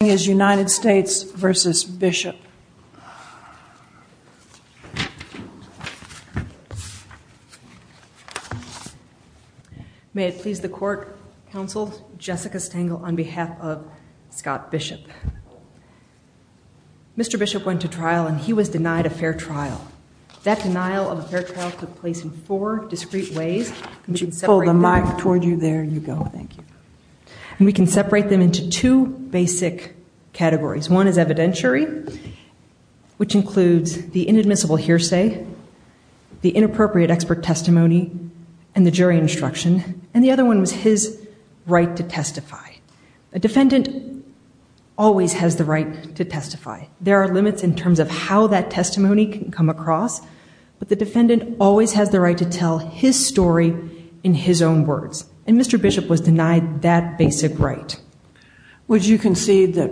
May it please the court, counsel, Jessica Stengel on behalf of Scott Bishop. Mr. Bishop went to trial and he was denied a fair trial. That denial of a fair trial took place in four discrete ways and we can separate them into two basic ways. One is evidentiary, which includes the inadmissible hearsay, the inappropriate expert testimony, and the jury instruction. And the other one was his right to testify. A defendant always has the right to testify. There are limits in terms of how that testimony can come across, but the defendant always has the right to tell his story in his own words. And Mr. Bishop was denied that basic right. Would you concede that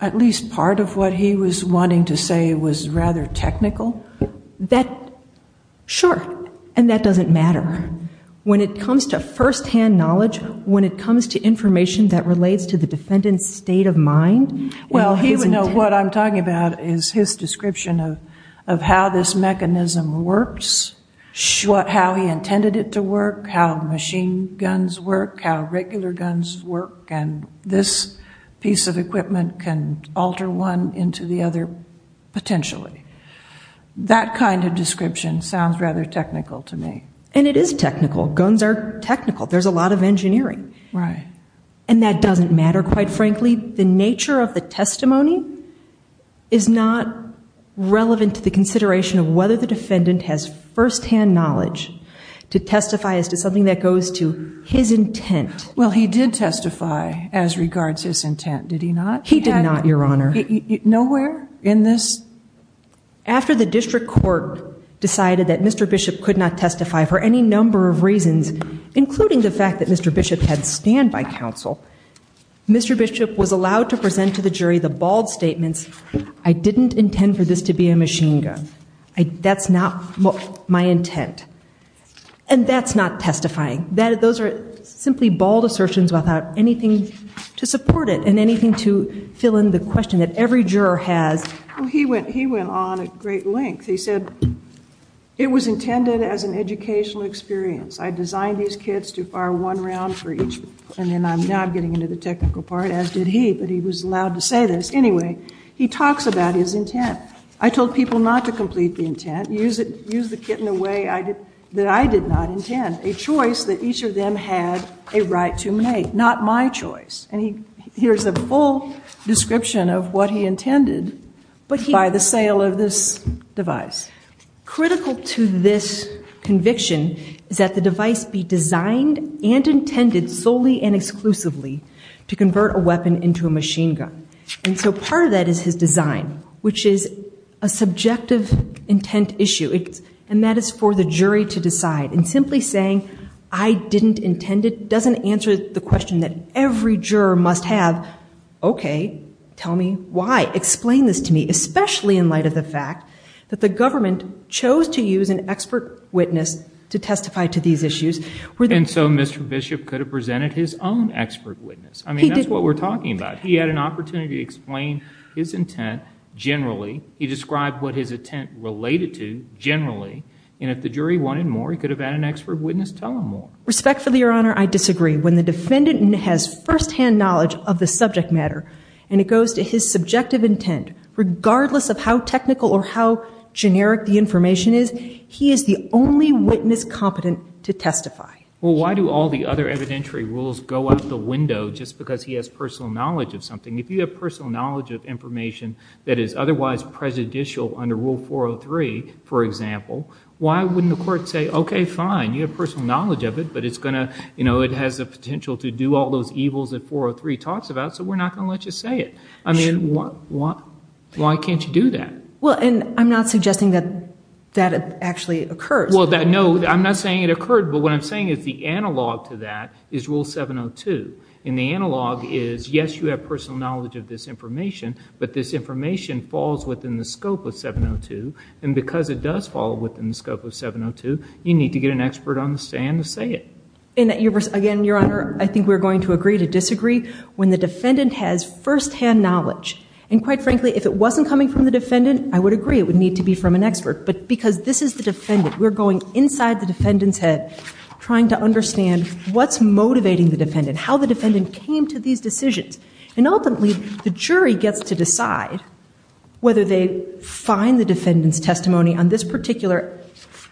at least part of what he was wanting to say was rather technical? Sure. And that doesn't matter. When it comes to firsthand knowledge, when it comes to information that relates to the defendant's state of mind. Well, he would know what I'm talking about is his description of how this mechanism works, how he intended it to work, how machine guns work, how regular guns work, and this piece of equipment can alter one into the other potentially. That kind of description sounds rather technical to me. And it is technical. Guns are technical. There's a lot of engineering. And that doesn't matter, quite frankly. The nature of the testimony is not relevant to the consideration of whether the defendant has firsthand knowledge to testify as to something that goes to his intent. Well, he did testify as regards his intent, did he not? He did not, Your Honor. Nowhere in this? After the district court decided that Mr. Bishop could not testify for any number of reasons, including the fact that Mr. Bishop had standby counsel, Mr. Bishop was allowed to present to the jury the bald statements, I didn't intend for this to be a machine gun. That's not my intent. And that's not testifying. Those are simply bald assertions without anything to support it and anything to fill in the question that every juror has. He went on at great length. He said, it was intended as an educational experience. I designed these kits to fire one round for each. And now I'm getting into the technical part, as did he, but he was allowed to say this. Anyway, he talks about his intent. I told people not to complete the intent. Use the kit in a way that I did not intend, a choice that each of them had a right to make, not my choice. And here's a full description of what he intended by the sale of this device. Critical to this conviction is that the device be designed and intended solely and exclusively to convert a weapon into a machine gun. And so part of that is his design, which is a subjective intent issue. And that is for the jury to decide. And simply saying, I didn't intend it, doesn't answer the question that every juror must have. OK, tell me why. Explain this to me, especially in light of the fact that the government chose to use an expert witness to testify to these issues. And so Mr. Bishop could have presented his own expert witness. I mean, that's what we're talking about. He had an opportunity to explain his intent generally. He described what his intent related to generally. And if the jury wanted more, he could have had an expert witness tell him more. Respectfully, Your Honor, I disagree. When the defendant has firsthand knowledge of the subject matter and it goes to his subjective intent, regardless of how technical or how generic the information is, he is the only witness competent to testify. Well, why do all the other evidentiary rules go out the window just because he has personal knowledge of something? If you have personal knowledge of information that is otherwise prejudicial under Rule 403, for example, why wouldn't the court say, OK, fine, you have personal knowledge of it, but it's going to, you know, it has the potential to do all those evils that 403 talks about, so we're not going to let you say it. I mean, why can't you do that? Well, and I'm not suggesting that that actually occurs. Well, no, I'm not saying it occurred, but what I'm saying is the analog to that is Rule 702. And the analog is, yes, you have personal knowledge of this information, but this information falls within the scope of 702. And because it does fall within the scope of 702, you need to get an expert on the stand to say it. And again, Your Honor, I think we're going to agree to disagree when the defendant has firsthand knowledge. And quite frankly, if it wasn't coming from the defendant, I would agree it would need to be from an expert. But because this is the defendant, we're going inside the defendant's head trying to understand what's motivating the defendant, how the defendant came to these decisions. And ultimately, the jury gets to decide whether they find the defendant's testimony on this particular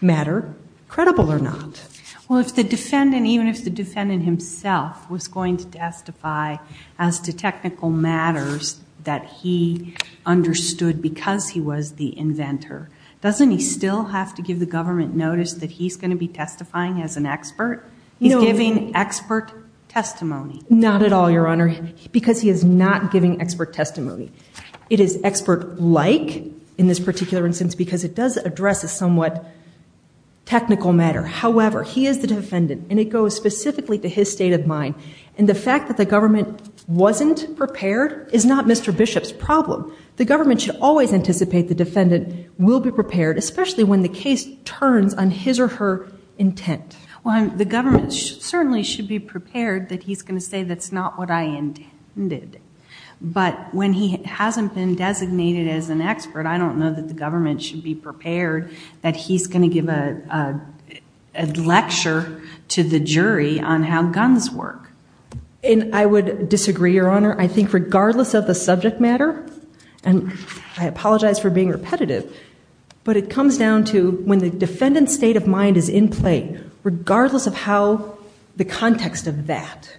matter credible or not. Well, if the defendant, even if the defendant himself was going to testify as to technical matters that he understood because he was the inventor, doesn't he still have to give the government notice that he's going to be testifying as an expert? He's giving expert testimony. Not at all, Your Honor, because he is not giving expert testimony. It is expert-like in this particular instance because it does address a somewhat technical matter. However, he is the defendant, and it goes specifically to his state of mind. And the fact that the government wasn't prepared is not Mr. Bishop's problem. The government should always anticipate the defendant will be prepared, especially when the case turns on his or her intent. Well, the government certainly should be prepared that he's going to say that's not what I intended. But when he hasn't been designated as an expert, I don't know that the government should be prepared that he's going to give a lecture to the jury on how guns work. And I would disagree, Your Honor. I think regardless of the subject matter, and I apologize for being repetitive, but it comes down to when the defendant's state of mind is in play, regardless of how the context of that,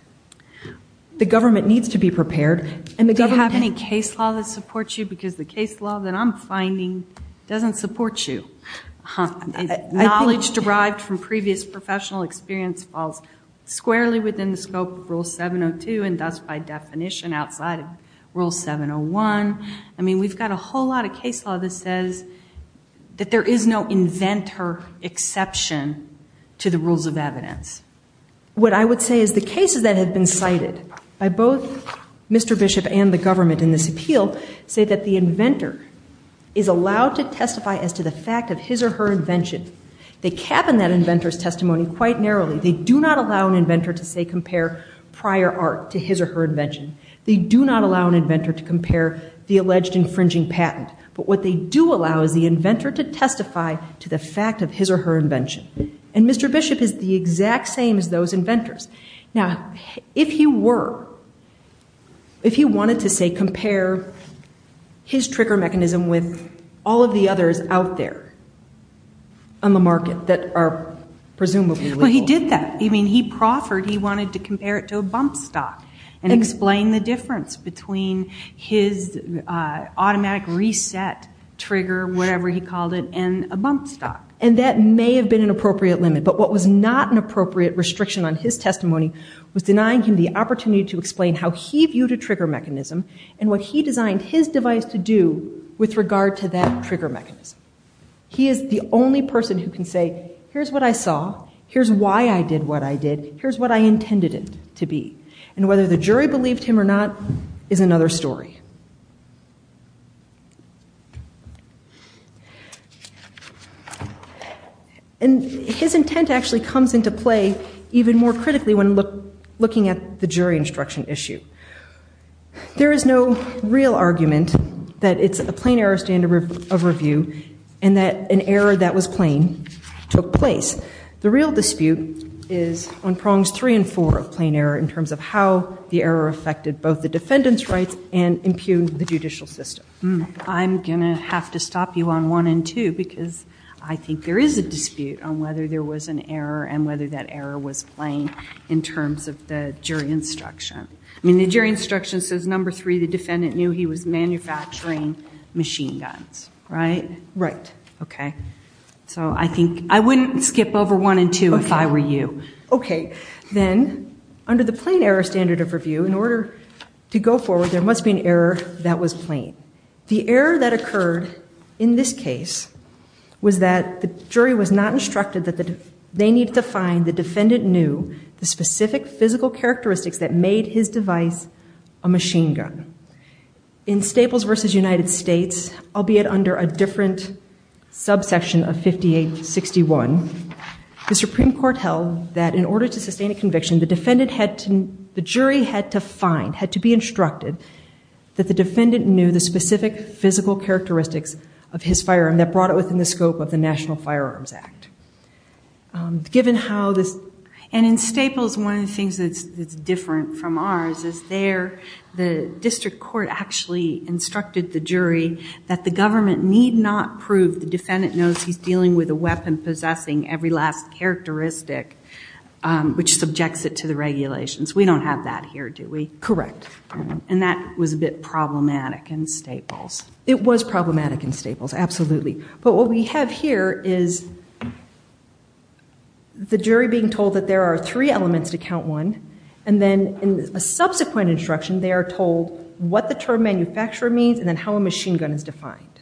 the government needs to be prepared. Do you have any case law that supports you? Because the case law that I'm finding doesn't support you. Knowledge derived from previous professional experience falls squarely within the scope of Rule 702 and thus by definition outside of Rule 701. I mean, we've got a whole lot of case law that says that there is no inventor exception to the rules of evidence. What I would say is the cases that have been cited by both Mr. Bishop and the government in this appeal say that the inventor is allowed to testify as to the fact of his or her invention. They cabin that inventor's testimony quite narrowly. They do not allow an inventor to, say, compare prior art to his or her invention. They do not allow an inventor to compare the alleged infringing patent. But what they do allow is the inventor to testify to the fact of his or her invention. And Mr. Bishop is the exact same as those inventors. Now, if he were, if he wanted to, say, compare his trigger mechanism with all of the others out there on the market that are presumably legal. Well, he did that. I mean, he proffered. He wanted to compare it to a bump stock and explain the difference between his automatic reset trigger, whatever he called it, and a bump stock. And that may have been an appropriate limit. But what was not an appropriate restriction on his testimony was denying him the opportunity to explain how he viewed a trigger mechanism and what he designed his device to do with regard to that trigger mechanism. He is the only person who can say, here's what I saw. Here's why I did what I did. Here's what I intended it to be. And whether the jury believed him or not is another story. And his intent actually comes into play even more critically when looking at the jury instruction issue. There is no real argument that it's a plain error standard of review and that an error that was plain took place. The real dispute is on prongs three and four of plain error in terms of how the error affected both the defendant's rights and impugned the judicial system. I'm going to have to stop you on one and two because I think there is a dispute on whether there was an error and whether that error was plain in terms of the jury instruction. I mean, the jury instruction says, number three, the defendant knew he was manufacturing machine guns, right? Right. OK. So I think I wouldn't skip over one and two if I were you. OK. Then under the plain error standard of review, in order to go forward, there must be an error that was plain. The error that occurred in this case was that the jury was not instructed that they needed to find the defendant knew the specific physical characteristics that made his device a machine gun. In Staples versus United States, albeit under a different subsection of 5861, the Supreme Court held that in order to sustain a conviction, the jury had to find, had to be instructed that the defendant knew the specific physical characteristics of his firearm that brought it within the scope of the National Firearms Act. Given how this, and in Staples, one of the things that's different from ours is there, the district court actually instructed the jury that the government need not prove the defendant knows he's dealing with a weapon possessing every last characteristic which subjects it to the regulations. We don't have that here, do we? Correct. And that was a bit problematic in Staples. It was problematic in Staples, absolutely. But what we have here is the jury being told that there are three elements to count one, and then in a subsequent instruction, they are told what the term manufacturer means and then how a machine gun is defined.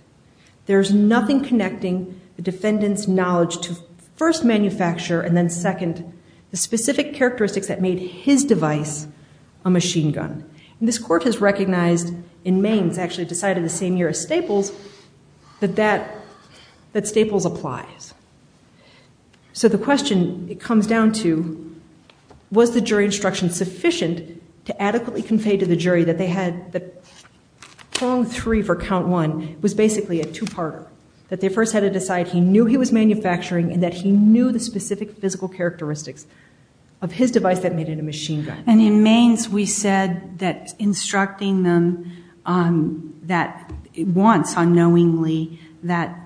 There's nothing connecting the defendant's knowledge to first, manufacturer, and then second, the specific characteristics that made his device a machine gun. And this court has recognized, in Maines, actually decided the same year as Staples, that that, that Staples applies. So the question it comes down to, was the jury instruction sufficient to adequately convey to the jury that they had, that prong three for count one was basically a two-parter, that they first had to decide he knew he was manufacturing and that he knew the specific physical characteristics of his device that made it a machine gun. And in Maines, we said that instructing them that once, unknowingly, that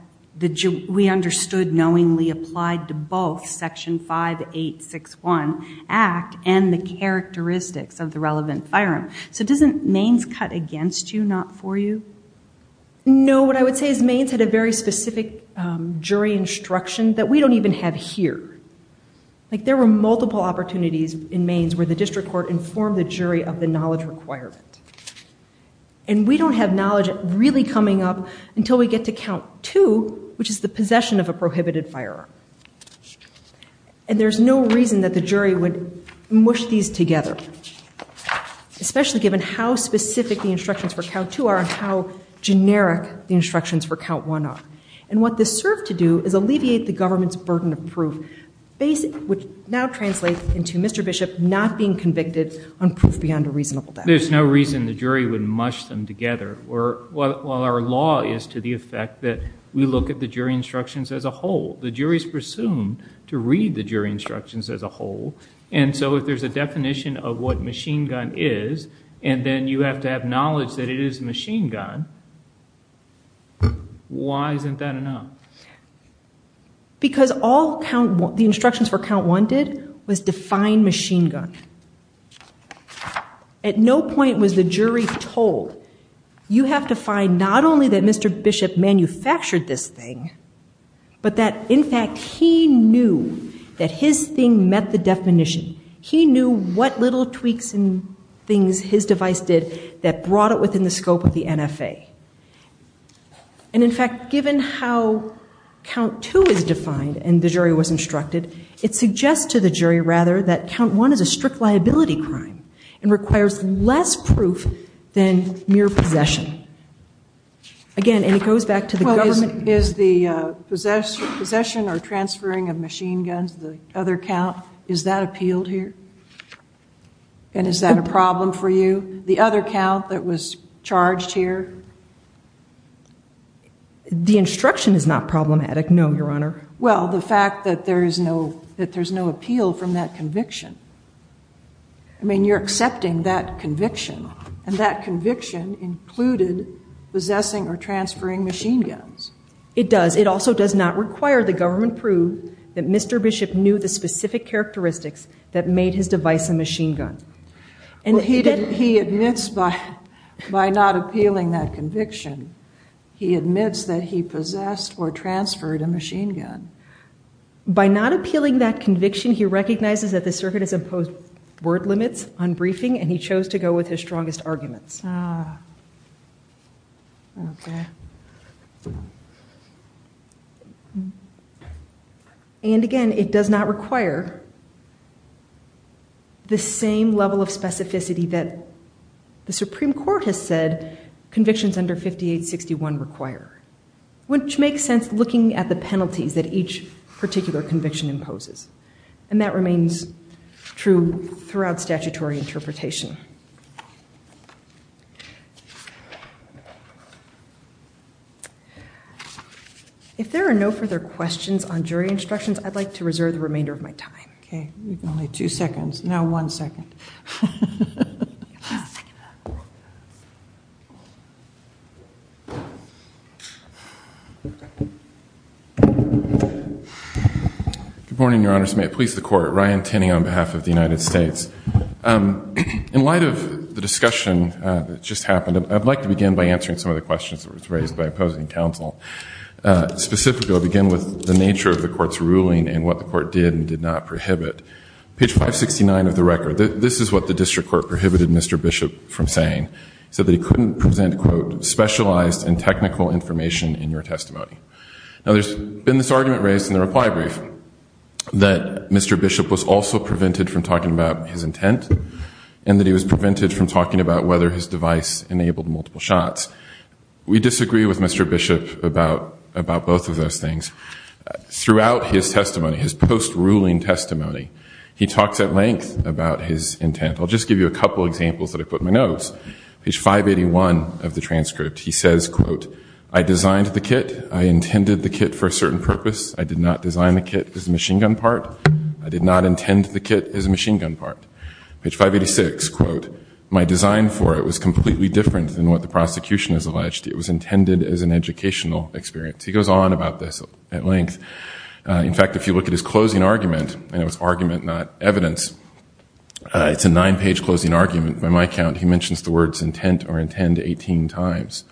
we understood knowingly applied to both Section 5861 Act and the characteristics of the relevant firearm. So doesn't Maines cut against you, not for you? No. What I would say is Maines had a very specific jury instruction that we don't even have here. Like, there were multiple opportunities in Maines where the district court informed the jury of the knowledge requirement. And we don't have knowledge really coming up until we get to count two, which is the possession of a prohibited firearm. And there's no reason that the jury would mush these together, especially given how specific the instructions for count two are and how generic the instructions for count one are. And what this served to do is alleviate the government's burden of proof, which now translates into Mr. Bishop not being convicted on proof beyond a reasonable doubt. There's no reason the jury would mush them together, while our law is to the effect that we look at the jury instructions as a whole. The jury is presumed to read the jury instructions as a whole. And so if there's a definition of what machine gun is, and then you have to have knowledge that it is a machine gun, why isn't that enough? Because all the instructions for count one did was define machine gun. At no point was the jury told, you have to find not only that Mr. Bishop manufactured this thing, but that, in fact, he knew that his thing met the definition. He knew what little tweaks and things his device did that brought it within the scope of the NFA. And, in fact, given how count two is defined and the jury was instructed, it suggests to the jury, rather, that count one is a strict liability crime and requires less proof than mere possession. Again, and it goes back to the government. Well, is the possession or transferring of machine guns the other count? Is that appealed here? And is that a problem for you? The other count that was charged here? The instruction is not problematic, no, Your Honor. Well, the fact that there's no appeal from that conviction. I mean, you're accepting that conviction, and that conviction included possessing or transferring machine guns. It does. It also does not require the government prove that Mr. Bishop knew the specific characteristics that made his device a machine gun. Well, he admits by not appealing that conviction, he admits that he possessed or transferred a machine gun. By not appealing that conviction, he recognizes that the circuit has imposed word limits on briefing, and he chose to go with his strongest arguments. Okay. And, again, it does not require the same level of specificity that the Supreme Court has said convictions under 5861 require, which makes sense looking at the penalties that each particular conviction imposes, and that remains true throughout statutory interpretation. If there are no further questions on jury instructions, I'd like to reserve the remainder of my time. Okay. You've got only two seconds. Now one second. Give me a second. Good morning, Your Honor. May it please the Court. Ryan Tinney on behalf of the United States. In light of the discussion that just happened, I'd like to begin by answering some of the questions that were raised by opposing counsel. Specifically, I'll begin with the nature of the Court's ruling and what the Court did and did not prohibit. Page 569 of the record, this is what the District Court prohibited Mr. Bishop from saying. It said that he couldn't present, quote, specialized and technical information in your testimony. Now there's been this argument raised in the reply brief that Mr. Bishop was also prevented from talking about his intent and that he was prevented from talking about whether his device enabled multiple shots. We disagree with Mr. Bishop about both of those things. Throughout his testimony, his post-ruling testimony, he talks at length about his intent. I'll just give you a couple examples that I put in my notes. Page 581 of the transcript, he says, quote, I designed the kit. I intended the kit for a certain purpose. I did not design the kit as a machine gun part. I did not intend the kit as a machine gun part. Page 586, quote, my design for it was completely different than what the prosecution has alleged. It was intended as an educational experience. He goes on about this at length. In fact, if you look at his closing argument, and it was argument, not evidence, it's a nine-page closing argument by my count. He mentions the words intent or intend 18 times.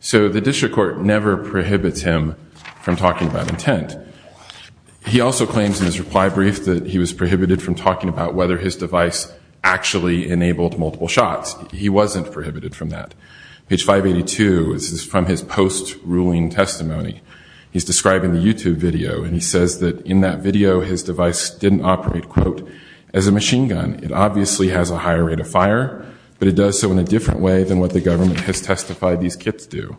So the District Court never prohibits him from talking about intent. He also claims in his reply brief that he was prohibited from talking about whether his device actually enabled multiple shots. He wasn't prohibited from that. Page 582 is from his post-ruling testimony. He's describing the YouTube video, and he says that in that video, his device didn't operate, quote, as a machine gun. It obviously has a higher rate of fire, but it does so in a different way than what the government has testified these kits do.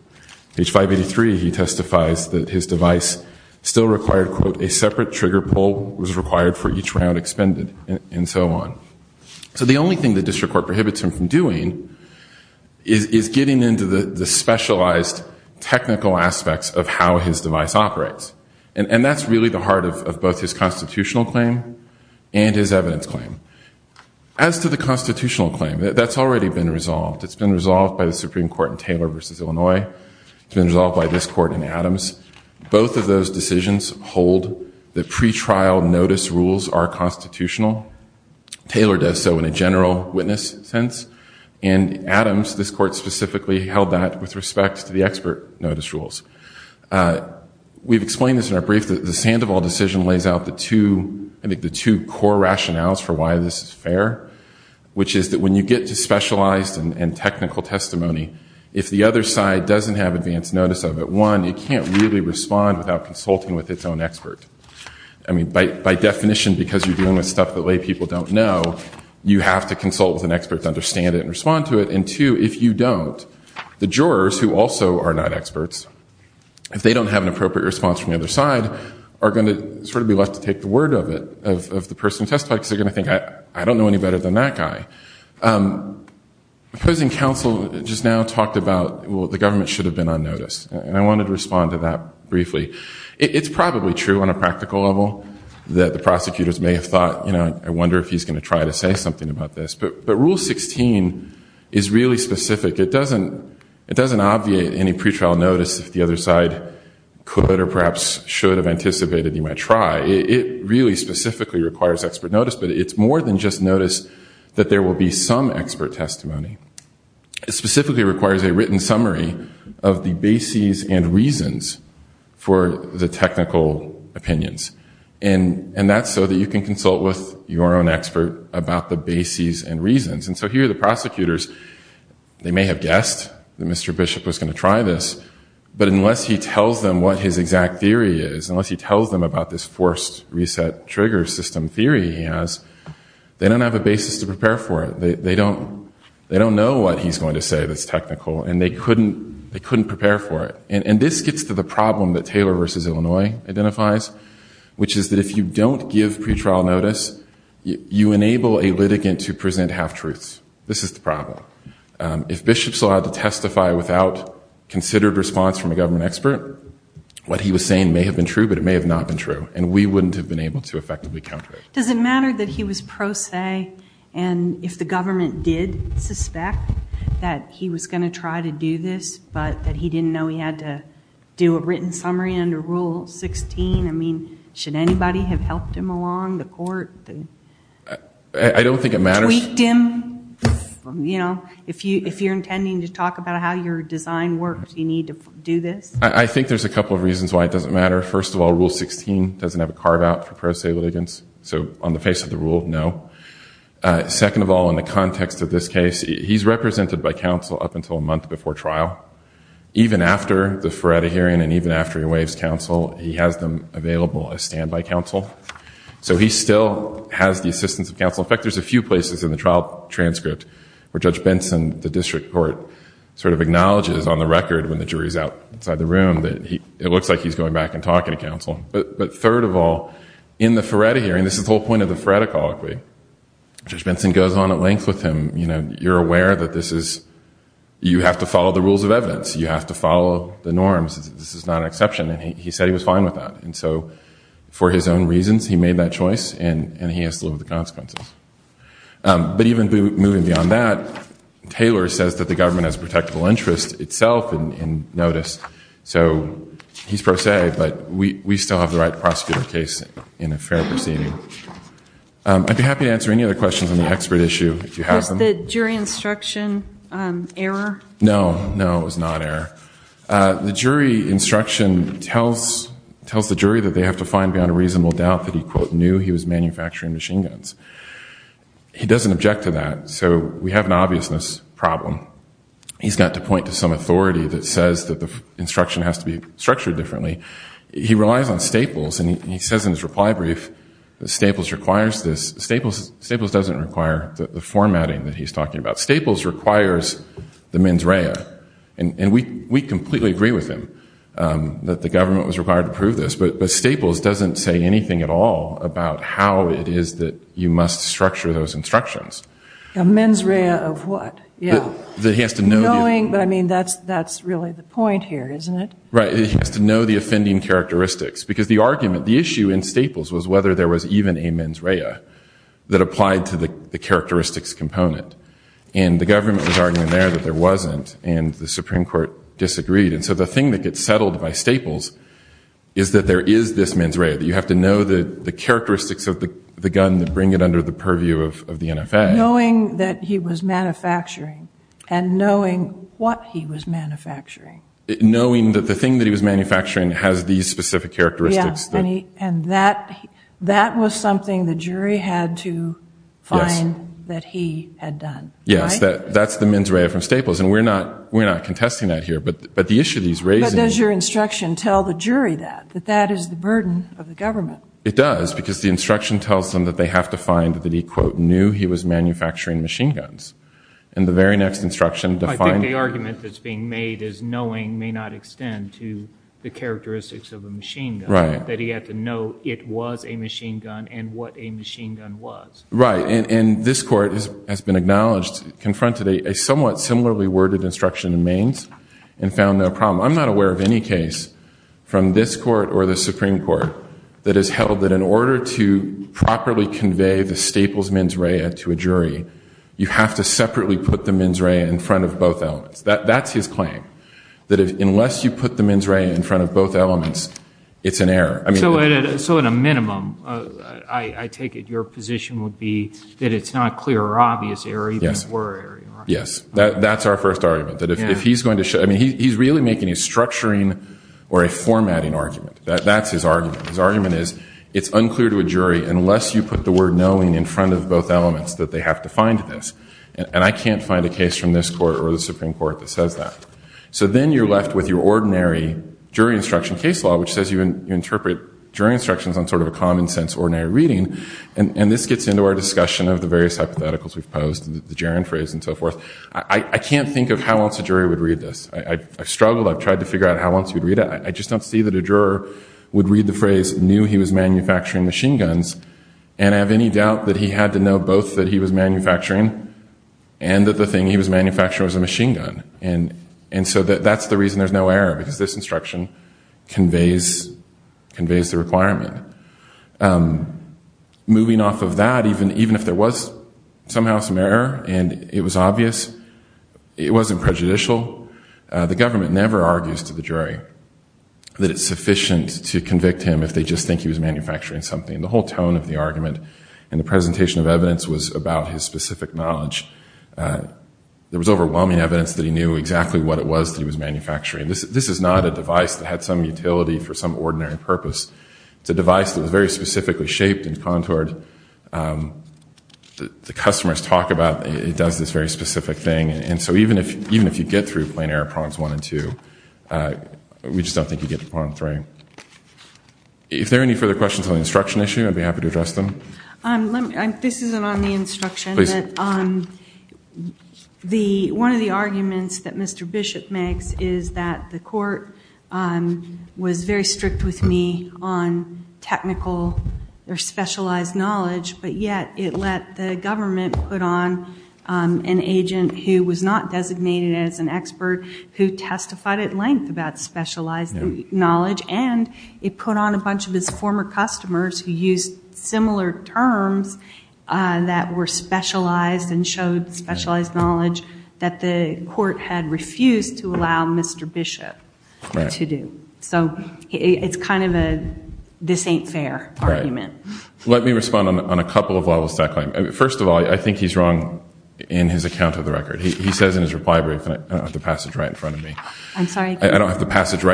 Page 583, he testifies that his device still required, quote, a separate trigger pull, was required for each round expended, and so on. So the only thing the District Court prohibits him from doing is getting into the specialized technical aspects of how his device operates. And that's really the heart of both his constitutional claim and his evidence claim. As to the constitutional claim, that's already been resolved. It's been resolved by the Supreme Court in Taylor v. Illinois. It's been resolved by this Court in Adams. Both of those decisions hold that pretrial notice rules are constitutional. Taylor does so in a general witness sense. And Adams, this Court specifically, held that with respect to the expert notice rules. We've explained this in our brief that the Sandoval decision lays out which is that when you get to specialized and technical testimony, if the other side doesn't have advance notice of it, one, it can't really respond without consulting with its own expert. I mean, by definition, because you're dealing with stuff that lay people don't know, you have to consult with an expert to understand it and respond to it. And two, if you don't, the jurors, who also are not experts, if they don't have an appropriate response from the other side, are going to sort of be left to take the word of it, of the person who testified, because they're going to think, I don't know any better than that guy. Opposing counsel just now talked about, well, the government should have been on notice. And I wanted to respond to that briefly. It's probably true on a practical level that the prosecutors may have thought, I wonder if he's going to try to say something about this. But Rule 16 is really specific. It doesn't obviate any pretrial notice if the other side could or perhaps should have anticipated you might try. It really specifically requires expert notice, but it's more than just notice that there will be some expert testimony. It specifically requires a written summary of the bases and reasons for the technical opinions. And that's so that you can consult with your own expert about the bases and reasons. And so here the prosecutors, they may have guessed that Mr. Bishop was going to try this, but unless he tells them what his exact theory is, unless he tells them about this forced reset trigger system theory he has, they don't have a basis to prepare for it. They don't know what he's going to say that's technical, and they couldn't prepare for it. And this gets to the problem that Taylor v. Illinois identifies, which is that if you don't give pretrial notice, you enable a litigant to present half-truths. This is the problem. If Bishop's allowed to testify without considered response from a government expert, what he was saying may have been true, but it may have not been true, and we wouldn't have been able to effectively counter it. Does it matter that he was pro se and if the government did suspect that he was going to try to do this, but that he didn't know he had to do a written summary under Rule 16? I mean, should anybody have helped him along? The court? I don't think it matters. Tweaked him? You know, if you're intending to talk about how your design works, you need to do this? I think there's a couple of reasons why it doesn't matter. First of all, Rule 16 doesn't have a carve-out for pro se litigants. So on the face of the rule, no. Second of all, in the context of this case, he's represented by counsel up until a month before trial. Even after the Feretta hearing and even after he waives counsel, he has them available as standby counsel. So he still has the assistance of counsel. In fact, there's a few places in the trial transcript where Judge Benson, the district court, sort of acknowledges on the record when the jury's out inside the room that it looks like he's going back and talking to counsel. But third of all, in the Feretta hearing, this is the whole point of the Feretta colloquy, Judge Benson goes on at length with him. You know, you're aware that this is... You have to follow the rules of evidence. You have to follow the norms. This is not an exception, and he said he was fine with that. And so for his own reasons, he made that choice, and he has to live with the consequences. But even moving beyond that, Taylor says that the government has a protectable interest itself in notice, so he's pro se, but we still have the right to prosecute our case in a fair proceeding. I'd be happy to answer any other questions on the expert issue if you have them. Was the jury instruction error? No, no, it was not error. The jury instruction tells the jury that they have to find beyond a reasonable doubt that he, quote, knew he was manufacturing machine guns. He doesn't object to that, so we have an obviousness problem. He's got to point to some authority that says that the instruction has to be structured differently. He relies on Staples, and he says in his reply brief that Staples requires this. Staples doesn't require the formatting that he's talking about. Staples requires the mens rea, and we completely agree with him that the government was required to prove this, but Staples doesn't say anything at all about how it is that you must structure those instructions. A mens rea of what? Knowing, but I mean, that's really the point here, isn't it? Right, he has to know the offending characteristics because the argument, the issue in Staples was whether there was even a mens rea that applied to the characteristics component, and the government was arguing there that there wasn't, and the Supreme Court disagreed, and so the thing that gets settled by Staples is that there is this mens rea, that you have to know the characteristics of the gun and bring it under the purview of the NFA. Knowing that he was manufacturing and knowing what he was manufacturing. Knowing that the thing that he was manufacturing has these specific characteristics. Yes, and that was something the jury had to find that he had done. Yes, that's the mens rea from Staples, and we're not contesting that here, but the issue that he's raising... But does your instruction tell the jury that, that that is the burden of the government? It does, because the instruction tells them that they have to find that he, quote, knew he was manufacturing machine guns. And the very next instruction defined... I think the argument that's being made is knowing may not extend to the characteristics of a machine gun. Right. That he had to know it was a machine gun and what a machine gun was. Right, and this Court has been acknowledged, confronted a somewhat similarly worded instruction in Mains and found no problem. I'm not aware of any case from this Court or the Supreme Court that has held that in order to properly convey the Staples mens rea to a jury, you have to separately put the mens rea in front of both elements. That's his claim, that unless you put the mens rea in front of both elements, it's an error. So at a minimum, I take it your position would be that it's not a clear or obvious error even if it were an error. Yes, that's our first argument, that if he's going to show... I mean, he's really making a structuring or a formatting argument. That's his argument. His argument is it's unclear to a jury unless you put the word knowing in front of both elements that they have to find this. And I can't find a case from this Court or the Supreme Court that says that. So then you're left with your ordinary jury instruction case law which says you interpret jury instructions on sort of a common sense ordinary reading. And this gets into our discussion of the various hypotheticals we've posed, the gerund phrase and so forth. I can't think of how else a jury would read this. I've struggled. I've tried to figure out how else you'd read it. I just don't see that a juror would read the phrase knew he was manufacturing machine guns and have any doubt that he had to know both that he was manufacturing and that the thing he was manufacturing was a machine gun. And so that's the reason there's no error because this instruction conveys the requirement. Moving off of that, even if there was somehow some error and it was obvious, it wasn't prejudicial, the government never argues to the jury that it's sufficient to convict him if they just think he was manufacturing something. The whole tone of the argument in the presentation of evidence was about his specific knowledge. There was overwhelming evidence that he knew exactly what it was that he was manufacturing. This is not a device that had some utility for some ordinary purpose. It's a device that was very specifically shaped and contoured. The customers talk about it does this very specific thing. And so even if you get through plain error prongs one and two, we just don't think you get to prong three. If there are any further questions on the instruction issue, I'd be happy to address them. This isn't on the instruction. One of the arguments that Mr. Bishop makes is that the court was very strict with me on technical or specialized knowledge, but yet it let the government put on an agent who was not designated as an expert who testified at length about specialized knowledge, and it put on a bunch of his former customers who used similar terms that were specialized and showed specialized knowledge that the court had refused to allow Mr. Bishop to do. So it's kind of a this ain't fair argument. Let me respond on a couple of levels to that claim. First of all, I think he's wrong in his account of the record. He says in his reply brief, and I don't have the passage right in front of me, but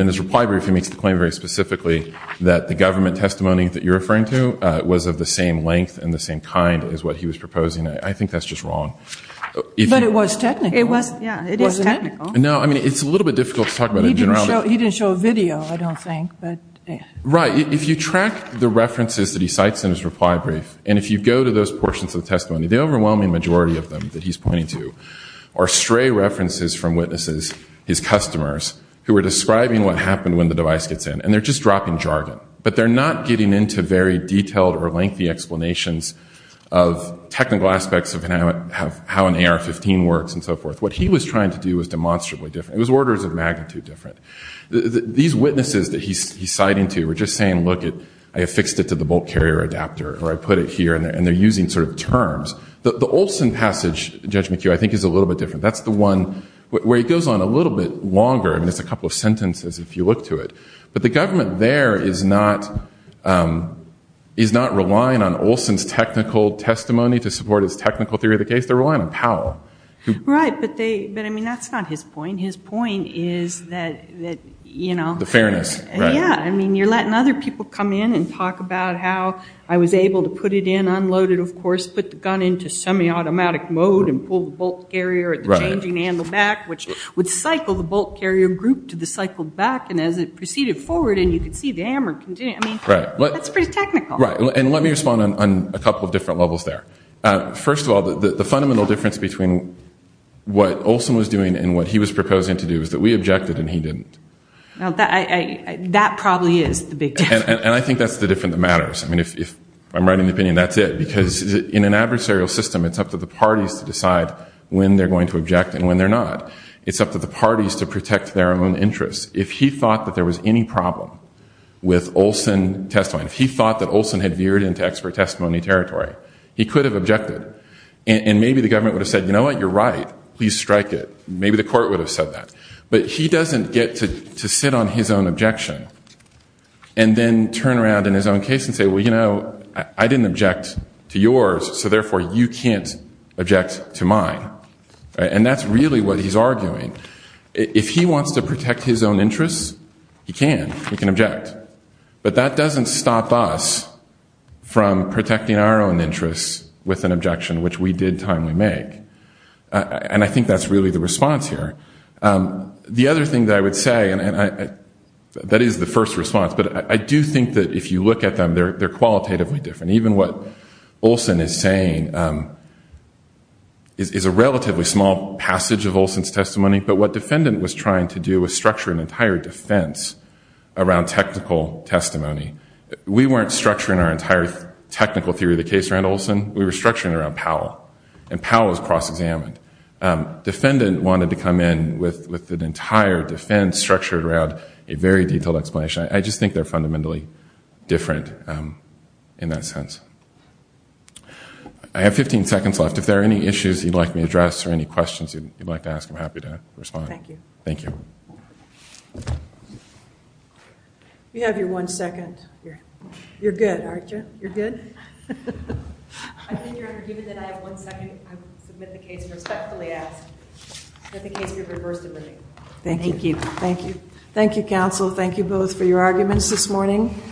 in his reply brief he makes the claim very specifically that the government testimony that you're referring to was of the same length and the same kind as what he was proposing. I think that's just wrong. But it was technical. Yeah, it is technical. No, I mean, it's a little bit difficult to talk about in general. He didn't show a video, I don't think. Right. If you track the references that he cites in his reply brief and if you go to those portions of the testimony, the overwhelming majority of them that he's pointing to are stray references from witnesses, his customers, who are describing what happened when the device gets in, and they're just dropping jargon. But they're not getting into very detailed or lengthy explanations of technical aspects of how an AR-15 works and so forth. What he was trying to do was demonstrably different. It was orders of magnitude different. These witnesses that he's citing to were just saying, look, I affixed it to the bolt carrier adapter, or I put it here, and they're using sort of terms. The Olson passage, Judge McHugh, I think is a little bit different. That's the one where he goes on a little bit longer. I mean, it's a couple of sentences if you look to it. But the government there is not relying on Olson's technical testimony to support his technical theory of the case. They're relying on Powell. Right. But, I mean, that's not his point. His point is that, you know. The fairness. Yeah, I mean, you're letting other people come in and talk about how I was able to put it in unloaded, of course, put the gun into semi-automatic mode and pull the bolt carrier at the changing handle back, which would cycle the bolt carrier group to the cycled back, and as it proceeded forward and you could see the hammer continue. I mean, that's pretty technical. Right. And let me respond on a couple of different levels there. First of all, the fundamental difference between what Olson was doing and what he was proposing to do is that we objected and he didn't. That probably is the big difference. And I think that's the difference that matters. I mean, if I'm right in the opinion, that's it. Because in an adversarial system, it's up to the parties to decide when they're going to object and when they're not. It's up to the parties to protect their own interests. If he thought that there was any problem with Olson testimony, if he thought that Olson had veered into expert testimony territory, he could have objected. And maybe the government would have said, you know what, you're right. Please strike it. Maybe the court would have said that. But he doesn't get to sit on his own objection and then turn around in his own case and say, well, you know, I didn't object to yours, so therefore you can't object to mine. And that's really what he's arguing. If he wants to protect his own interests, he can. He can object. But that doesn't stop us from protecting our own interests with an objection, which we did timely make. And I think that's really the response here. The other thing that I would say, and that is the first response, but I do think that if you look at them, they're qualitatively different. Even what Olson is saying is a relatively small passage of Olson's testimony, but what defendant was trying to do was structure an entire defense around technical testimony. We weren't structuring our entire technical theory of the case around Olson. We were structuring it around Powell. And Powell was cross-examined. Defendant wanted to come in with an entire defense structured around a very detailed explanation. I just think they're fundamentally different in that sense. I have 15 seconds left. If there are any issues you'd like me to address or any questions you'd like to ask, I'm happy to respond. Thank you. Thank you. You have your one second. You're good, aren't you? You're good? I think you're forgiven that I have one second. I submit the case respectfully ask that the case be reversed and reviewed. Thank you. Thank you. Thank you, counsel. Thank you both for your arguments this morning.